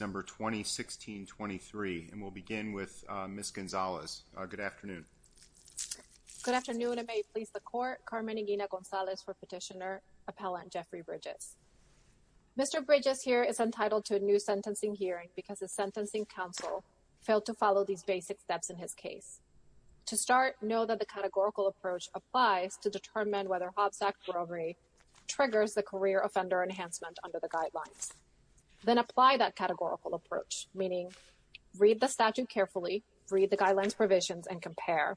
Number 2016-23 and we'll begin with Ms. Gonzalez. Good afternoon. Good afternoon and may it please the Court. Carmen Iguina Gonzalez for Petitioner Appellant Jeffrey Bridges. Mr. Bridges here is entitled to a new sentencing hearing because the Sentencing Council failed to follow these basic steps in his case. To start, know that the categorical approach applies to determine whether Hobbs Act brokery triggers the career offender or not. And if it does, then apply that categorical approach. Meaning, read the statute carefully, read the guidelines provisions and compare.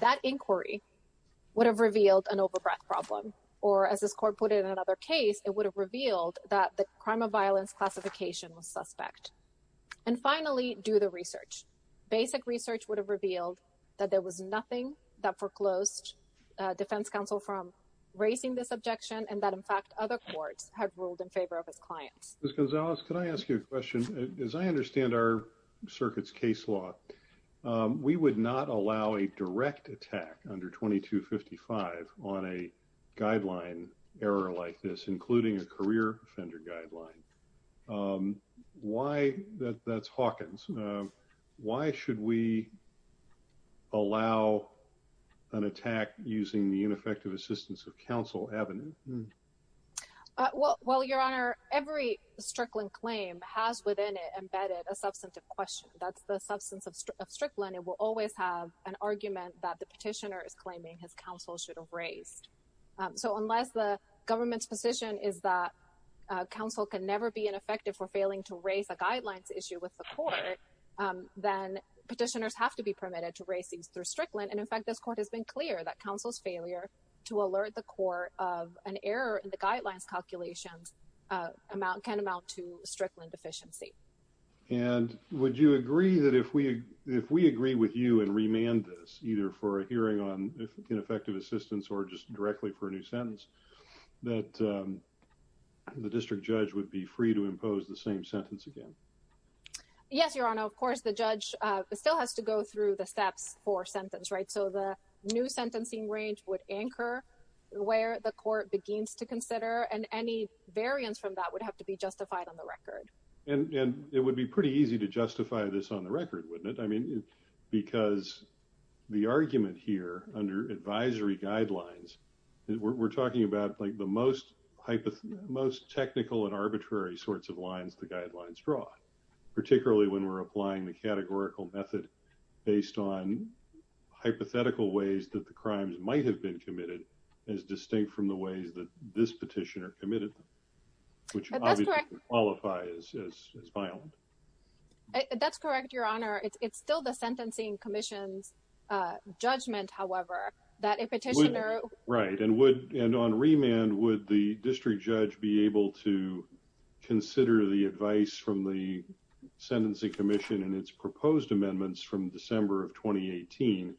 That inquiry would have revealed an overbreath problem or as this Court put it in another case, it would have revealed that the crime of violence classification was suspect. And finally, do the research. Basic research would have revealed that there was nothing that foreclosed defense counsel from raising this objection and that in fact other courts had ruled in favor of his clients. Ms. Gonzalez, can I ask you a question? As I understand our circuit's case law, we would not allow a direct attack under 2255 on a guideline error like this, including a career offender guideline. Why, that's Hawkins. Why should we allow an attack using the ineffective assistance of counsel avenue? Well, your Honor, every Strickland claim has within it embedded a substantive question. That's the substance of Strickland. It will always have an argument that the petitioner is claiming his counsel should have raised. So unless the government's position is that counsel can never be ineffective for failing to raise a guidelines issue with the court, then petitioners have to be permitted to raise these through Strickland. And in fact, this court has been clear that counsel's failure to alert the court of an error in the guidelines calculations amount can amount to Strickland deficiency. And would you agree that if we if we agree with you and remand this either for a hearing on ineffective assistance or just directly for a new sentence that the district judge would be free to impose the same sentence again? Yes, your Honor. Of course, the judge still has to go through the steps for sentence, right? So the new sentencing range would anchor where the court begins to consider and any variance from that would have to be justified on the record. And it would be pretty easy to justify this on the record, wouldn't it? I mean, because the argument here under advisory guidelines, we're talking about like the most hypothetical, most technical and arbitrary sorts of lines the guidelines draw. Particularly when we're applying the categorical method based on hypothetical ways that the crimes might have been committed as distinct from the ways that this petitioner committed. Which qualifies as violent. That's correct, your Honor. It's still the Sentencing Commission's judgment, however, that a petitioner... And on remand, would the district judge be able to consider the advice from the Sentencing Commission and its proposed amendments from December of 2018,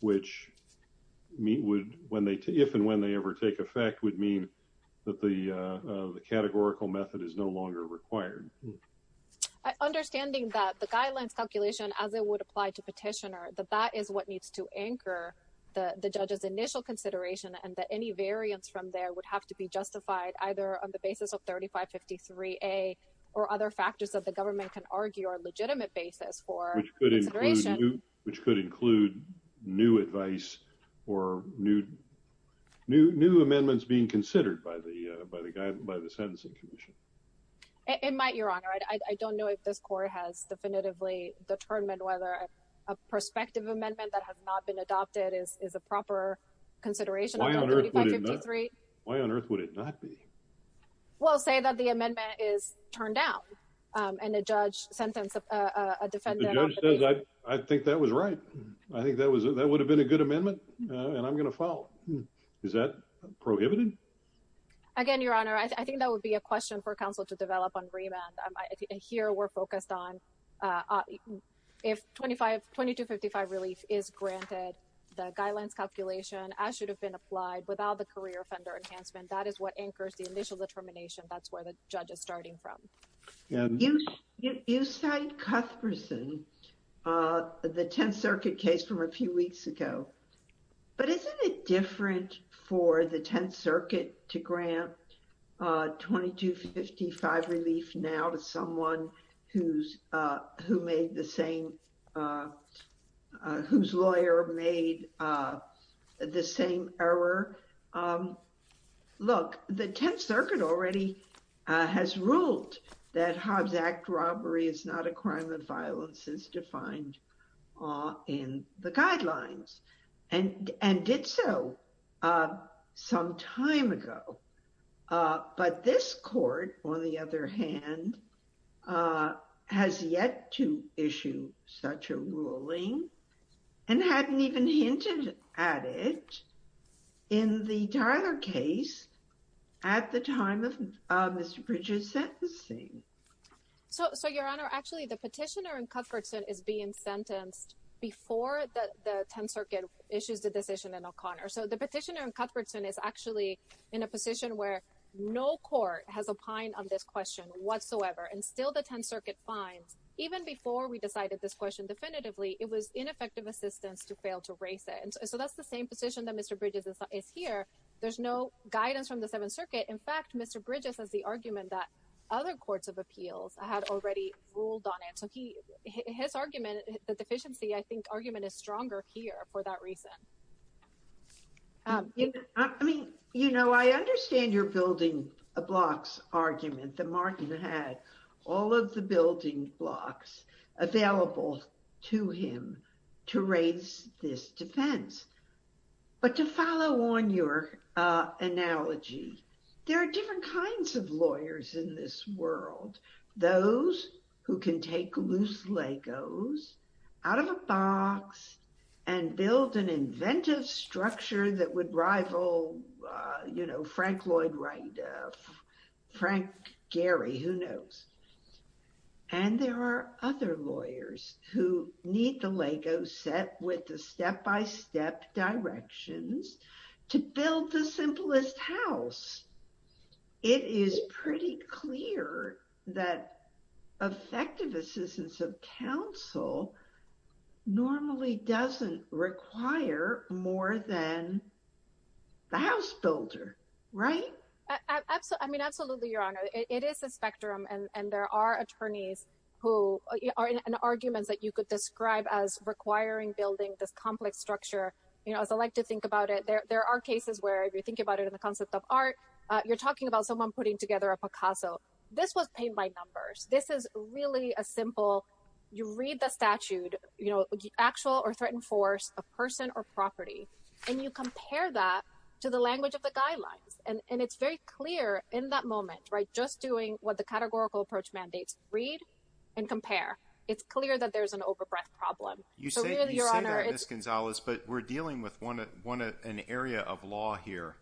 which would, if and when they ever take effect, would mean that the categorical method is no longer required? Understanding that the guidelines calculation as it would apply to petitioner, that that is what needs to anchor the judge's initial consideration and that any variance from there would have to be justified either on the basis of 3553A or other factors that the government can argue are legitimate basis for consideration. Which could include new advice or new amendments being considered by the Sentencing Commission. It might, your Honor. I don't know if this court has definitively determined whether a prospective amendment that has not been adopted is a proper consideration. Why on earth would it not? Why on earth would it not be? We'll say that the amendment is turned down and the judge sentences a defendant... The judge says, I think that was right. I think that would have been a good amendment and I'm going to file. Is that prohibited? Again, your Honor, I think that would be a question for counsel to develop on remand. Here we're focused on if 2255 relief is granted, the guidelines calculation as should have been applied without the career offender enhancement. That is what anchors the initial determination. That's where the judge is starting from. You cite Cuthbertson, the Tenth Circuit case from a few weeks ago. But isn't it different for the Tenth Circuit to grant 2255 relief now to someone who made the same, whose lawyer made the same error? Look, the Tenth Circuit already has ruled that Hobbs Act robbery is not a crime of violence as defined in the guidelines and did so some time ago. But this court, on the other hand, has yet to issue such a ruling and hadn't even hinted at it in the Tyler case at the time of Mr. Bridges' sentencing. So, your Honor, actually the petitioner in Cuthbertson is being sentenced before the Tenth Circuit issues the decision in O'Connor. So the petitioner in Cuthbertson is actually in a position where no court has opined on this question whatsoever. And still the Tenth Circuit finds, even before we decided this question definitively, it was ineffective assistance to fail to raise it. And so that's the same position that Mr. Bridges is here. There's no guidance from the Seventh Circuit. In fact, Mr. Bridges has the argument that other courts of appeals had already ruled on it. So his argument, the deficiency, I think argument is stronger here for that reason. I mean, you know, I understand you're building a blocks argument that Martin had all of the building blocks available to him to raise this defense. But to follow on your analogy, there are different kinds of lawyers in this world. Those who can take loose Legos out of a box and build an inventive structure that would rival, you know, Frank Lloyd Wright, Frank Gehry, who knows. And there are other lawyers who need the Lego set with the step-by-step directions to build the simplest house. It is pretty clear that effective assistance of counsel normally doesn't require more than the house builder, right? I mean, absolutely, Your Honor. It is a spectrum. And there are attorneys who are in arguments that you could describe as requiring building this complex structure. You know, as I like to think about it, there are cases where if you think about it in the concept of art, you're talking about someone putting together a Picasso. This was paid by numbers. This is really a simple you read the statute, you know, actual or threatened force, a person or property. And you compare that to the language of the guidelines. And it's very clear in that moment, right, just doing what the categorical approach mandates. Read and compare. It's clear that there's an overbreath problem. You say that, Ms. Gonzalez, but we're dealing with an area of law here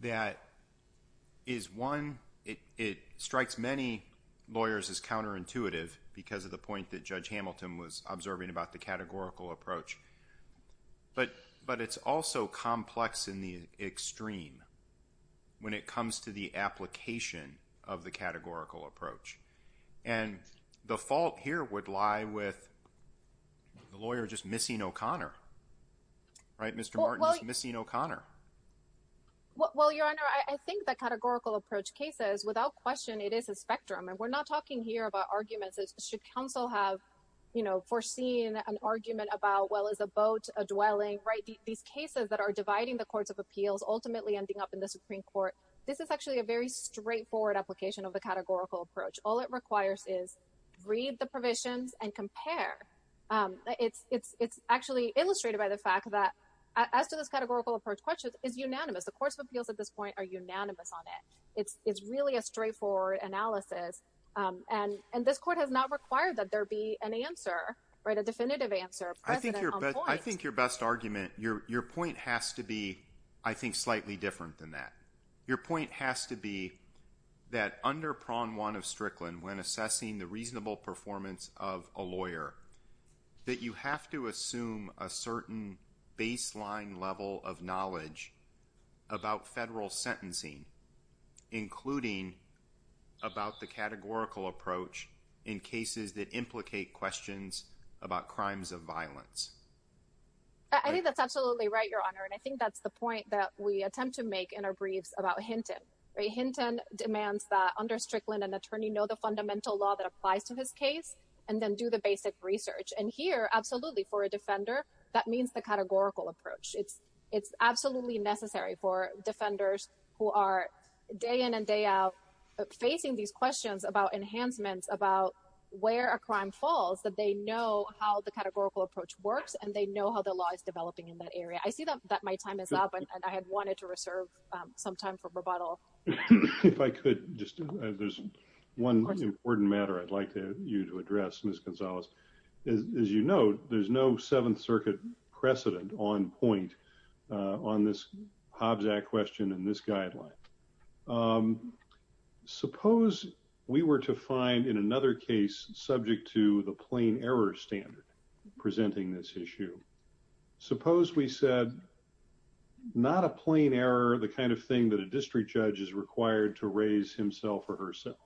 that is one. It strikes many lawyers as counterintuitive because of the point that Judge Hamilton was observing about the categorical approach. But but it's also complex in the extreme when it comes to the application of the categorical approach. And the fault here would lie with the lawyer just missing O'Connor. Right, Mr. Martin. Missing O'Connor. Well, Your Honor, I think the categorical approach cases without question, it is a spectrum. And we're not talking here about arguments. Should counsel have, you know, foreseen an argument about, well, is a boat a dwelling? Right. These cases that are dividing the courts of appeals ultimately ending up in the Supreme Court. This is actually a very straightforward application of the categorical approach. All it requires is read the provisions and compare. It's it's it's actually illustrated by the fact that as to this categorical approach, questions is unanimous. The courts of appeals at this point are unanimous on it. It's it's really a straightforward analysis. And and this court has not required that there be an answer or the definitive answer. I think you're I think your best argument, your your point has to be, I think, slightly different than that. Your point has to be that under prong one of Strickland, when assessing the reasonable performance of a lawyer, that you have to assume a certain baseline level of knowledge about federal sentencing, including about the categorical approach in cases that implicate questions about crimes of violence. I think that's absolutely right, Your Honor. And I think that's the point that we attempt to make in our briefs about Hinton. Hinton demands that under Strickland, an attorney know the fundamental law that applies to his case and then do the basic research. And here, absolutely. For a defender, that means the categorical approach. It's it's absolutely necessary for defenders who are day in and day out facing these questions about enhancements, about where a crime falls, that they know how the categorical approach works and they know how the law is developing in that area. I see that my time is up and I had wanted to reserve some time for rebuttal. If I could just add, there's one important matter I'd like you to address, Miss Gonzalez. As you know, there's no Seventh Circuit precedent on point on this Hobbs Act question in this guideline. Suppose we were to find in another case subject to the plain error standard presenting this issue. Suppose we said not a plain error, the kind of thing that a district judge is required to raise himself or herself.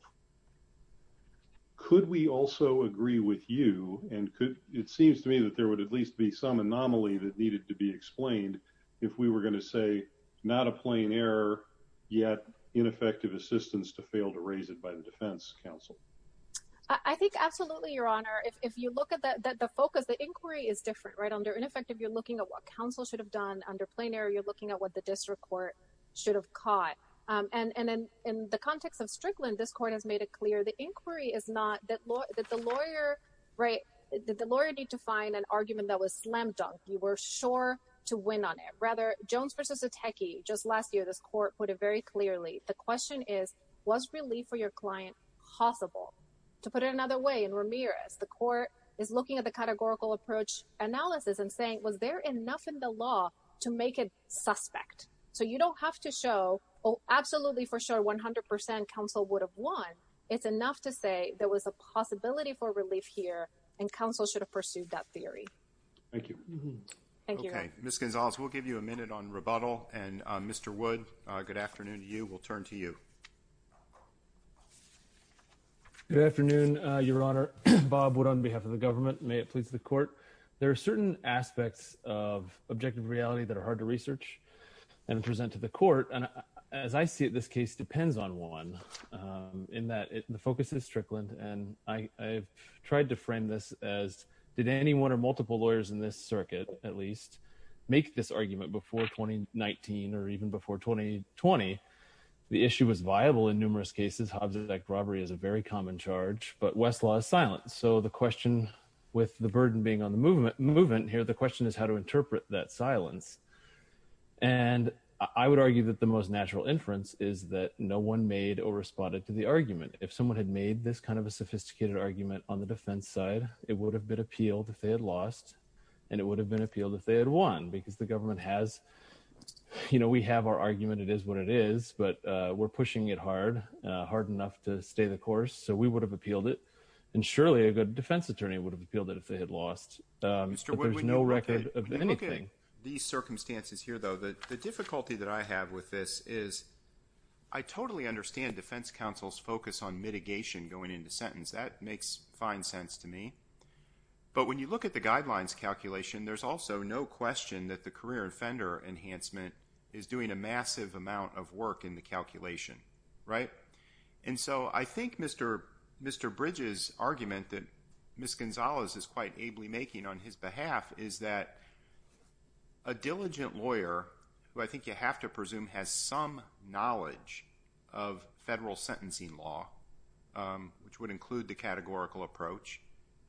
Could we also agree with you and could it seems to me that there would at least be some anomaly that needed to be explained. If we were going to say not a plain error, yet ineffective assistance to fail to raise it by the defense counsel. I think absolutely, Your Honor. If you look at the focus, the inquiry is different right under ineffective. You're looking at what counsel should have done under plain error. You're looking at what the district court should have caught. And then in the context of Strickland, this court has made it clear the inquiry is not that the lawyer. Right. The lawyer need to find an argument that was slam dunk. You were sure to win on it. Rather, Jones versus a techie just last year, this court put it very clearly. The question is, was relief for your client possible to put it another way? And Ramirez, the court is looking at the categorical approach analysis and saying, was there enough in the law to make it suspect? So you don't have to show. Oh, absolutely. For sure. One hundred percent counsel would have won. It's enough to say there was a possibility for relief here and counsel should have pursued that theory. Thank you. Thank you. Miss Gonzalez, we'll give you a minute on rebuttal. And Mr. Wood, good afternoon to you. We'll turn to you. Good afternoon, Your Honor. Bob Wood on behalf of the government. May it please the court. There are certain aspects of objective reality that are hard to research and present to the court. And as I see it, this case depends on one in that the focus is Strickland. And I've tried to frame this as did anyone or multiple lawyers in this circuit at least make this argument before twenty nineteen or even before twenty twenty? The issue was viable in numerous cases. Hobbsite robbery is a very common charge, but Westlaw silence. So the question with the burden being on the movement movement here, the question is how to interpret that silence. And I would argue that the most natural inference is that no one made or responded to the argument. If someone had made this kind of a sophisticated argument on the defense side, it would have been appealed if they had lost and it would have been appealed if they had won. Because the government has you know, we have our argument. It is what it is. But we're pushing it hard, hard enough to stay the course. So we would have appealed it. And surely a good defense attorney would have appealed it if they had lost. There's no record of anything. These circumstances here, though, the difficulty that I have with this is I totally understand defense counsel's focus on mitigation going into sentence. That makes fine sense to me. But when you look at the guidelines calculation, there's also no question that the career offender enhancement is doing a massive amount of work in the calculation. And so I think Mr. Bridges' argument that Ms. Gonzalez is quite ably making on his behalf is that a diligent lawyer, who I think you have to presume has some knowledge of federal sentencing law, which would include the categorical approach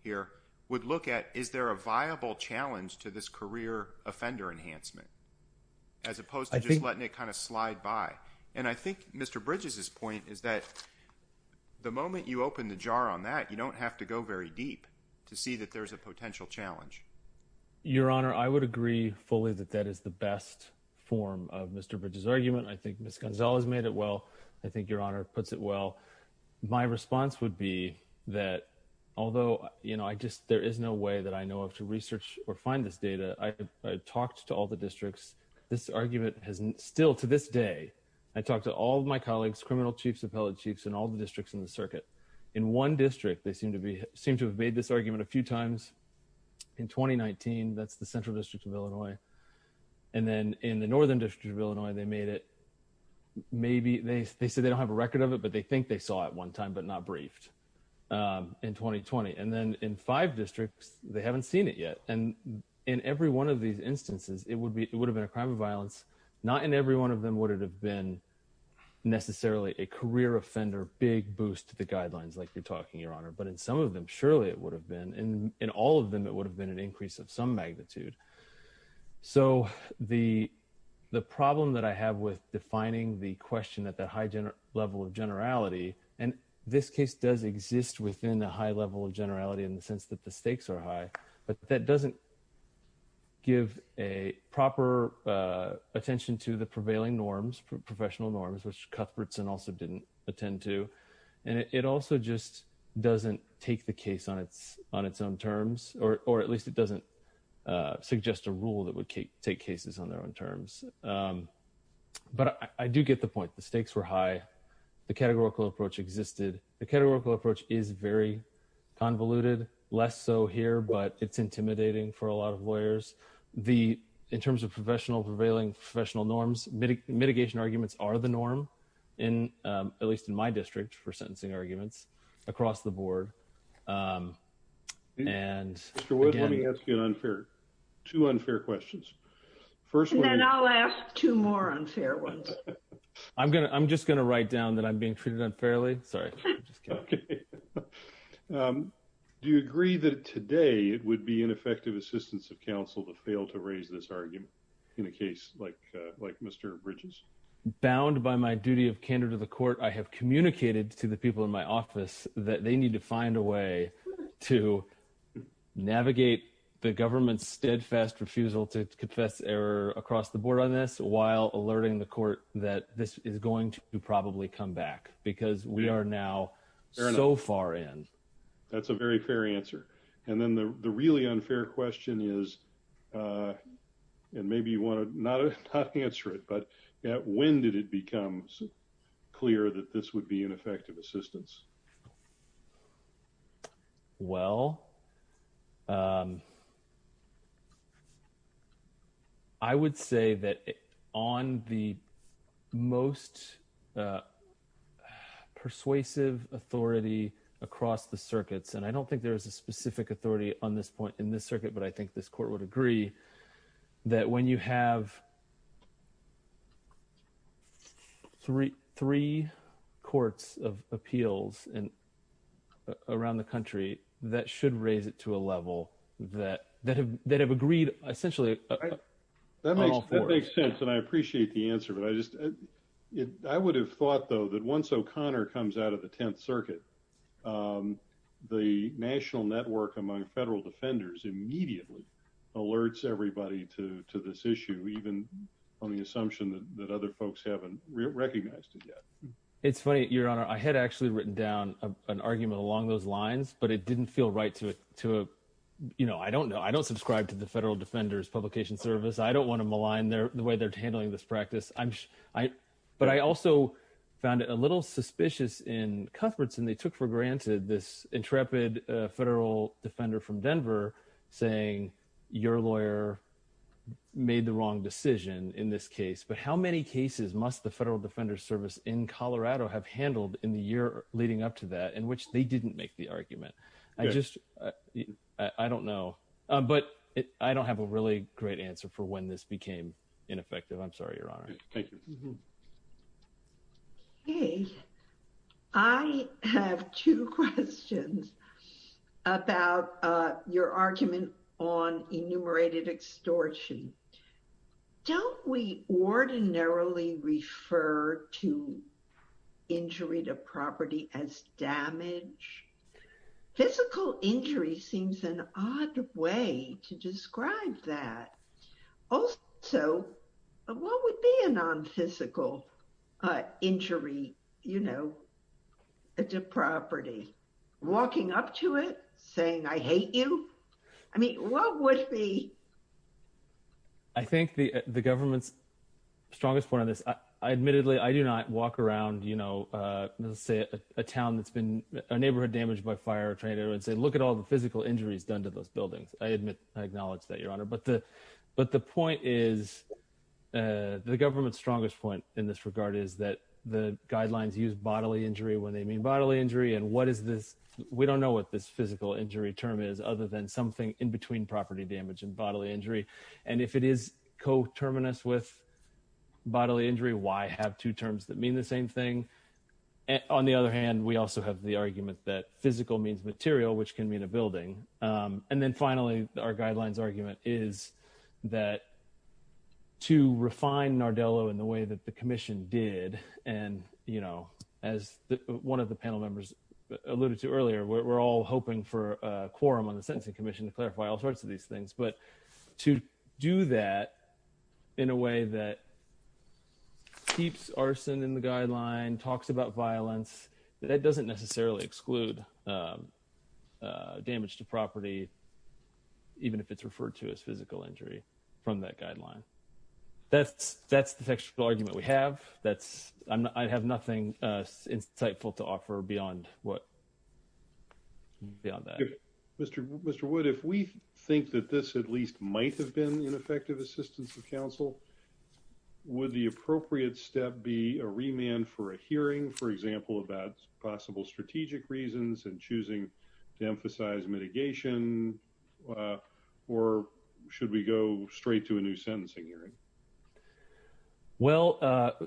here, would look at is there a viable challenge to this career offender enhancement as opposed to just letting it kind of slide by. And I think Mr. Bridges' point is that the moment you open the jar on that, you don't have to go very deep to see that there's a potential challenge. Your Honor, I would agree fully that that is the best form of Mr. Bridges' argument. I think Ms. Gonzalez made it well. I think Your Honor puts it well. My response would be that although, you know, I just there is no way that I know of to research or find this data. I talked to all the districts. This argument has still to this day. I talked to all my colleagues, criminal chiefs, appellate chiefs, and all the districts in the circuit. In one district, they seem to be seem to have made this argument a few times. In 2019, that's the Central District of Illinois. And then in the Northern District of Illinois, they made it. Maybe they said they don't have a record of it, but they think they saw it one time, but not briefed in 2020. And then in five districts, they haven't seen it yet. And in every one of these instances, it would be it would have been a crime of violence. Not in every one of them would it have been necessarily a career offender, big boost to the guidelines like you're talking, Your Honor, but in some of them, surely it would have been. In all of them, it would have been an increase of some magnitude. So the problem that I have with defining the question at that high level of generality, and this case does exist within a high level of generality in the sense that the stakes are high, but that doesn't give a proper attention to the prevailing norms, professional norms, which Cuthbertson also didn't attend to. And it also just doesn't take the case on its own terms, or at least it doesn't suggest a rule that would take cases on their own terms. But I do get the point. The stakes were high. The categorical approach existed. The categorical approach is very convoluted, less so here, but it's intimidating for a lot of lawyers. The in terms of professional prevailing professional norms, mitigation arguments are the norm in at least in my district for sentencing arguments across the board. And let me ask you an unfair to unfair questions. First, I'll ask two more unfair ones. I'm going to I'm just going to write down that I'm being treated unfairly. Sorry. Do you agree that today it would be ineffective assistance of counsel to fail to raise this argument in a case like like Mr. Bridges. Bound by my duty of candor to the court, I have communicated to the people in my office that they need to find a way to navigate the government's steadfast refusal to confess error across the board on this while alerting the court that this is going to probably come back. Because we are now so far in. That's a very fair answer. And then the really unfair question is. And maybe you want to not answer it, but when did it become clear that this would be ineffective assistance? Well. I would say that on the most persuasive authority across the circuits, and I don't think there is a specific authority on this point in this circuit, but I think this court would agree that when you have. Three three courts of appeals and around the country that should raise it to a level that that have that have agreed, essentially, that makes sense. And I appreciate the answer, but I just I would have thought, though, that once O'Connor comes out of the 10th Circuit. The national network among federal defenders immediately alerts everybody to this issue, even on the assumption that other folks haven't recognized it yet. It's funny, your honor. I had actually written down an argument along those lines, but it didn't feel right to it to, you know, I don't know. Publication service. I don't want to malign their the way they're handling this practice. I'm sure I but I also found it a little suspicious in comforts and they took for granted this intrepid federal defender from Denver, saying your lawyer. Made the wrong decision in this case, but how many cases must the federal defender service in Colorado have handled in the year leading up to that in which they didn't make the argument. I just, I don't know, but I don't have a really great answer for when this became ineffective. I'm sorry, your honor. Thank you. Hey, I have two questions about your argument on enumerated extortion. Don't we ordinarily refer to injury to property as damage, physical injury seems an odd way to describe that. So, what would be a non physical injury, you know, a property, walking up to it, saying I hate you. I mean, what would be. I think the, the government's strongest part of this. I admittedly I do not walk around, you know, say a town that's been a neighborhood damaged by fire trainer and say look at all the physical injuries done to those buildings, I admit, I acknowledge that your honor but the, but the point is, the government's strongest point in this regard is that the guidelines use bodily injury when they mean bodily injury and what is this. We don't know what this physical injury term is other than something in between property damage and bodily injury. And if it is co terminus with bodily injury why have two terms that mean the same thing. On the other hand, we also have the argument that physical means material which can mean a building. And then finally, our guidelines argument is that to refine Nardello in the way that the commission did. And, you know, as one of the panel members alluded to earlier we're all hoping for a quorum on the sentencing commission to clarify all sorts of these things but to do that in a way that keeps arson in the guideline talks about violence, that doesn't necessarily exclude damage to property. Even if it's referred to as physical injury from that guideline that's that's the argument we have that's I have nothing insightful to offer beyond what. Beyond that, Mr. Mr would if we think that this at least might have been an effective assistance of counsel. Would the appropriate step be a remand for a hearing, for example, about possible strategic reasons and choosing to emphasize mitigation. Or should we go straight to a new sentencing hearing. Well,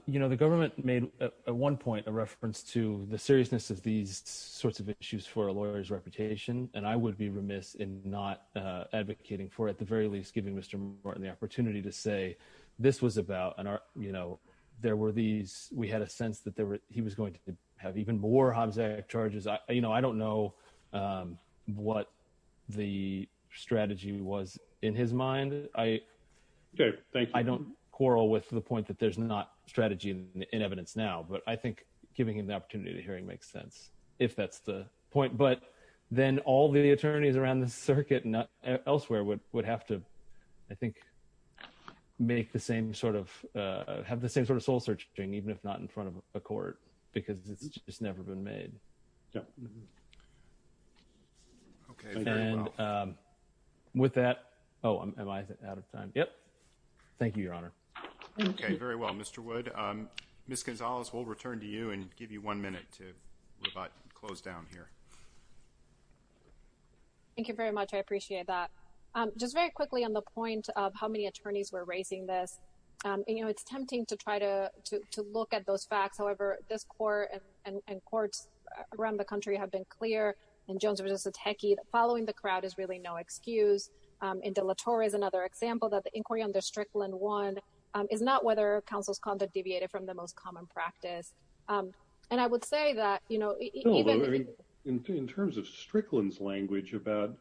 you know the government made at one point a reference to the seriousness of these sorts of issues for a lawyer's reputation, and I would be remiss in not advocating for at the very least giving Mr. Martin the opportunity to say this was about an art, you know, there were these, we had a sense that there were, he was going to have even more Hobbs Act charges I you know I don't know what the strategy was in his mind, I. I don't quarrel with the point that there's not strategy in evidence now but I think giving him the opportunity to hearing makes sense, if that's the point, but then all the attorneys around the circuit not elsewhere would would have to, I think, make the same sort of have the same sort of soul searching, even if not in front of a court, because it's just never been made. Yeah. And with that, oh, am I out of time. Yep. Thank you, Your Honor. Okay, very well Mr would miss Gonzalez will return to you and give you one minute to close down here. Thank you very much. I appreciate that. Just very quickly on the point of how many attorneys were racing this, you know, it's tempting to try to look at those facts. However, this court and courts around the country have been clear, and Jones was just a techie following the crowd is really no excuse. In Delatore is another example that the inquiry under Strickland one is not whether counsel's conduct deviated from the most common practice. And I would say that, you know, in terms of Strickland's language about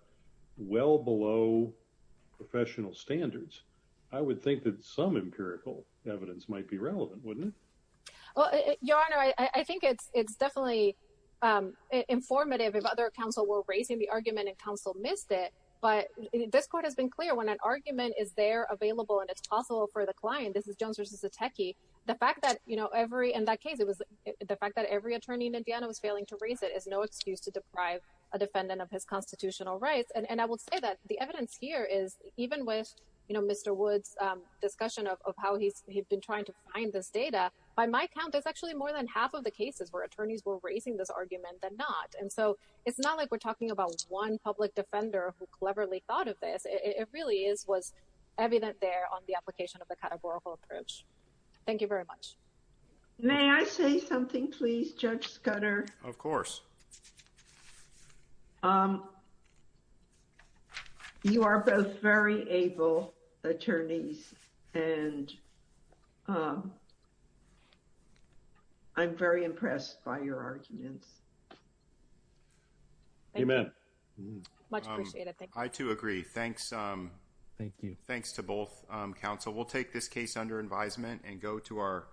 well below professional standards, I would think that some empirical evidence might be relevant, wouldn't it. Your Honor, I think it's it's definitely informative if other counsel were raising the argument and counsel missed it, but this court has been clear when an argument is there available and it's possible for the client. This is Jones versus a techie. The fact that, you know, every in that case, it was the fact that every attorney in Indiana was failing to raise it is no excuse to deprive a defendant of his constitutional rights. And I will say that the evidence here is even with, you know, Mr. Woods discussion of how he's been trying to find this data. By my count, there's actually more than half of the cases where attorneys were raising this argument than not. And so it's not like we're talking about one public defender who cleverly thought of this. It really is was evident there on the application of the categorical approach. Thank you very much. May I say something, please, Judge Scudder? Of course. You are both very able attorneys and. I'm very impressed by your arguments. Thank you. I, too, agree. Thanks. Thank you. Thanks to both counsel. We'll take this case under advisement and go to our.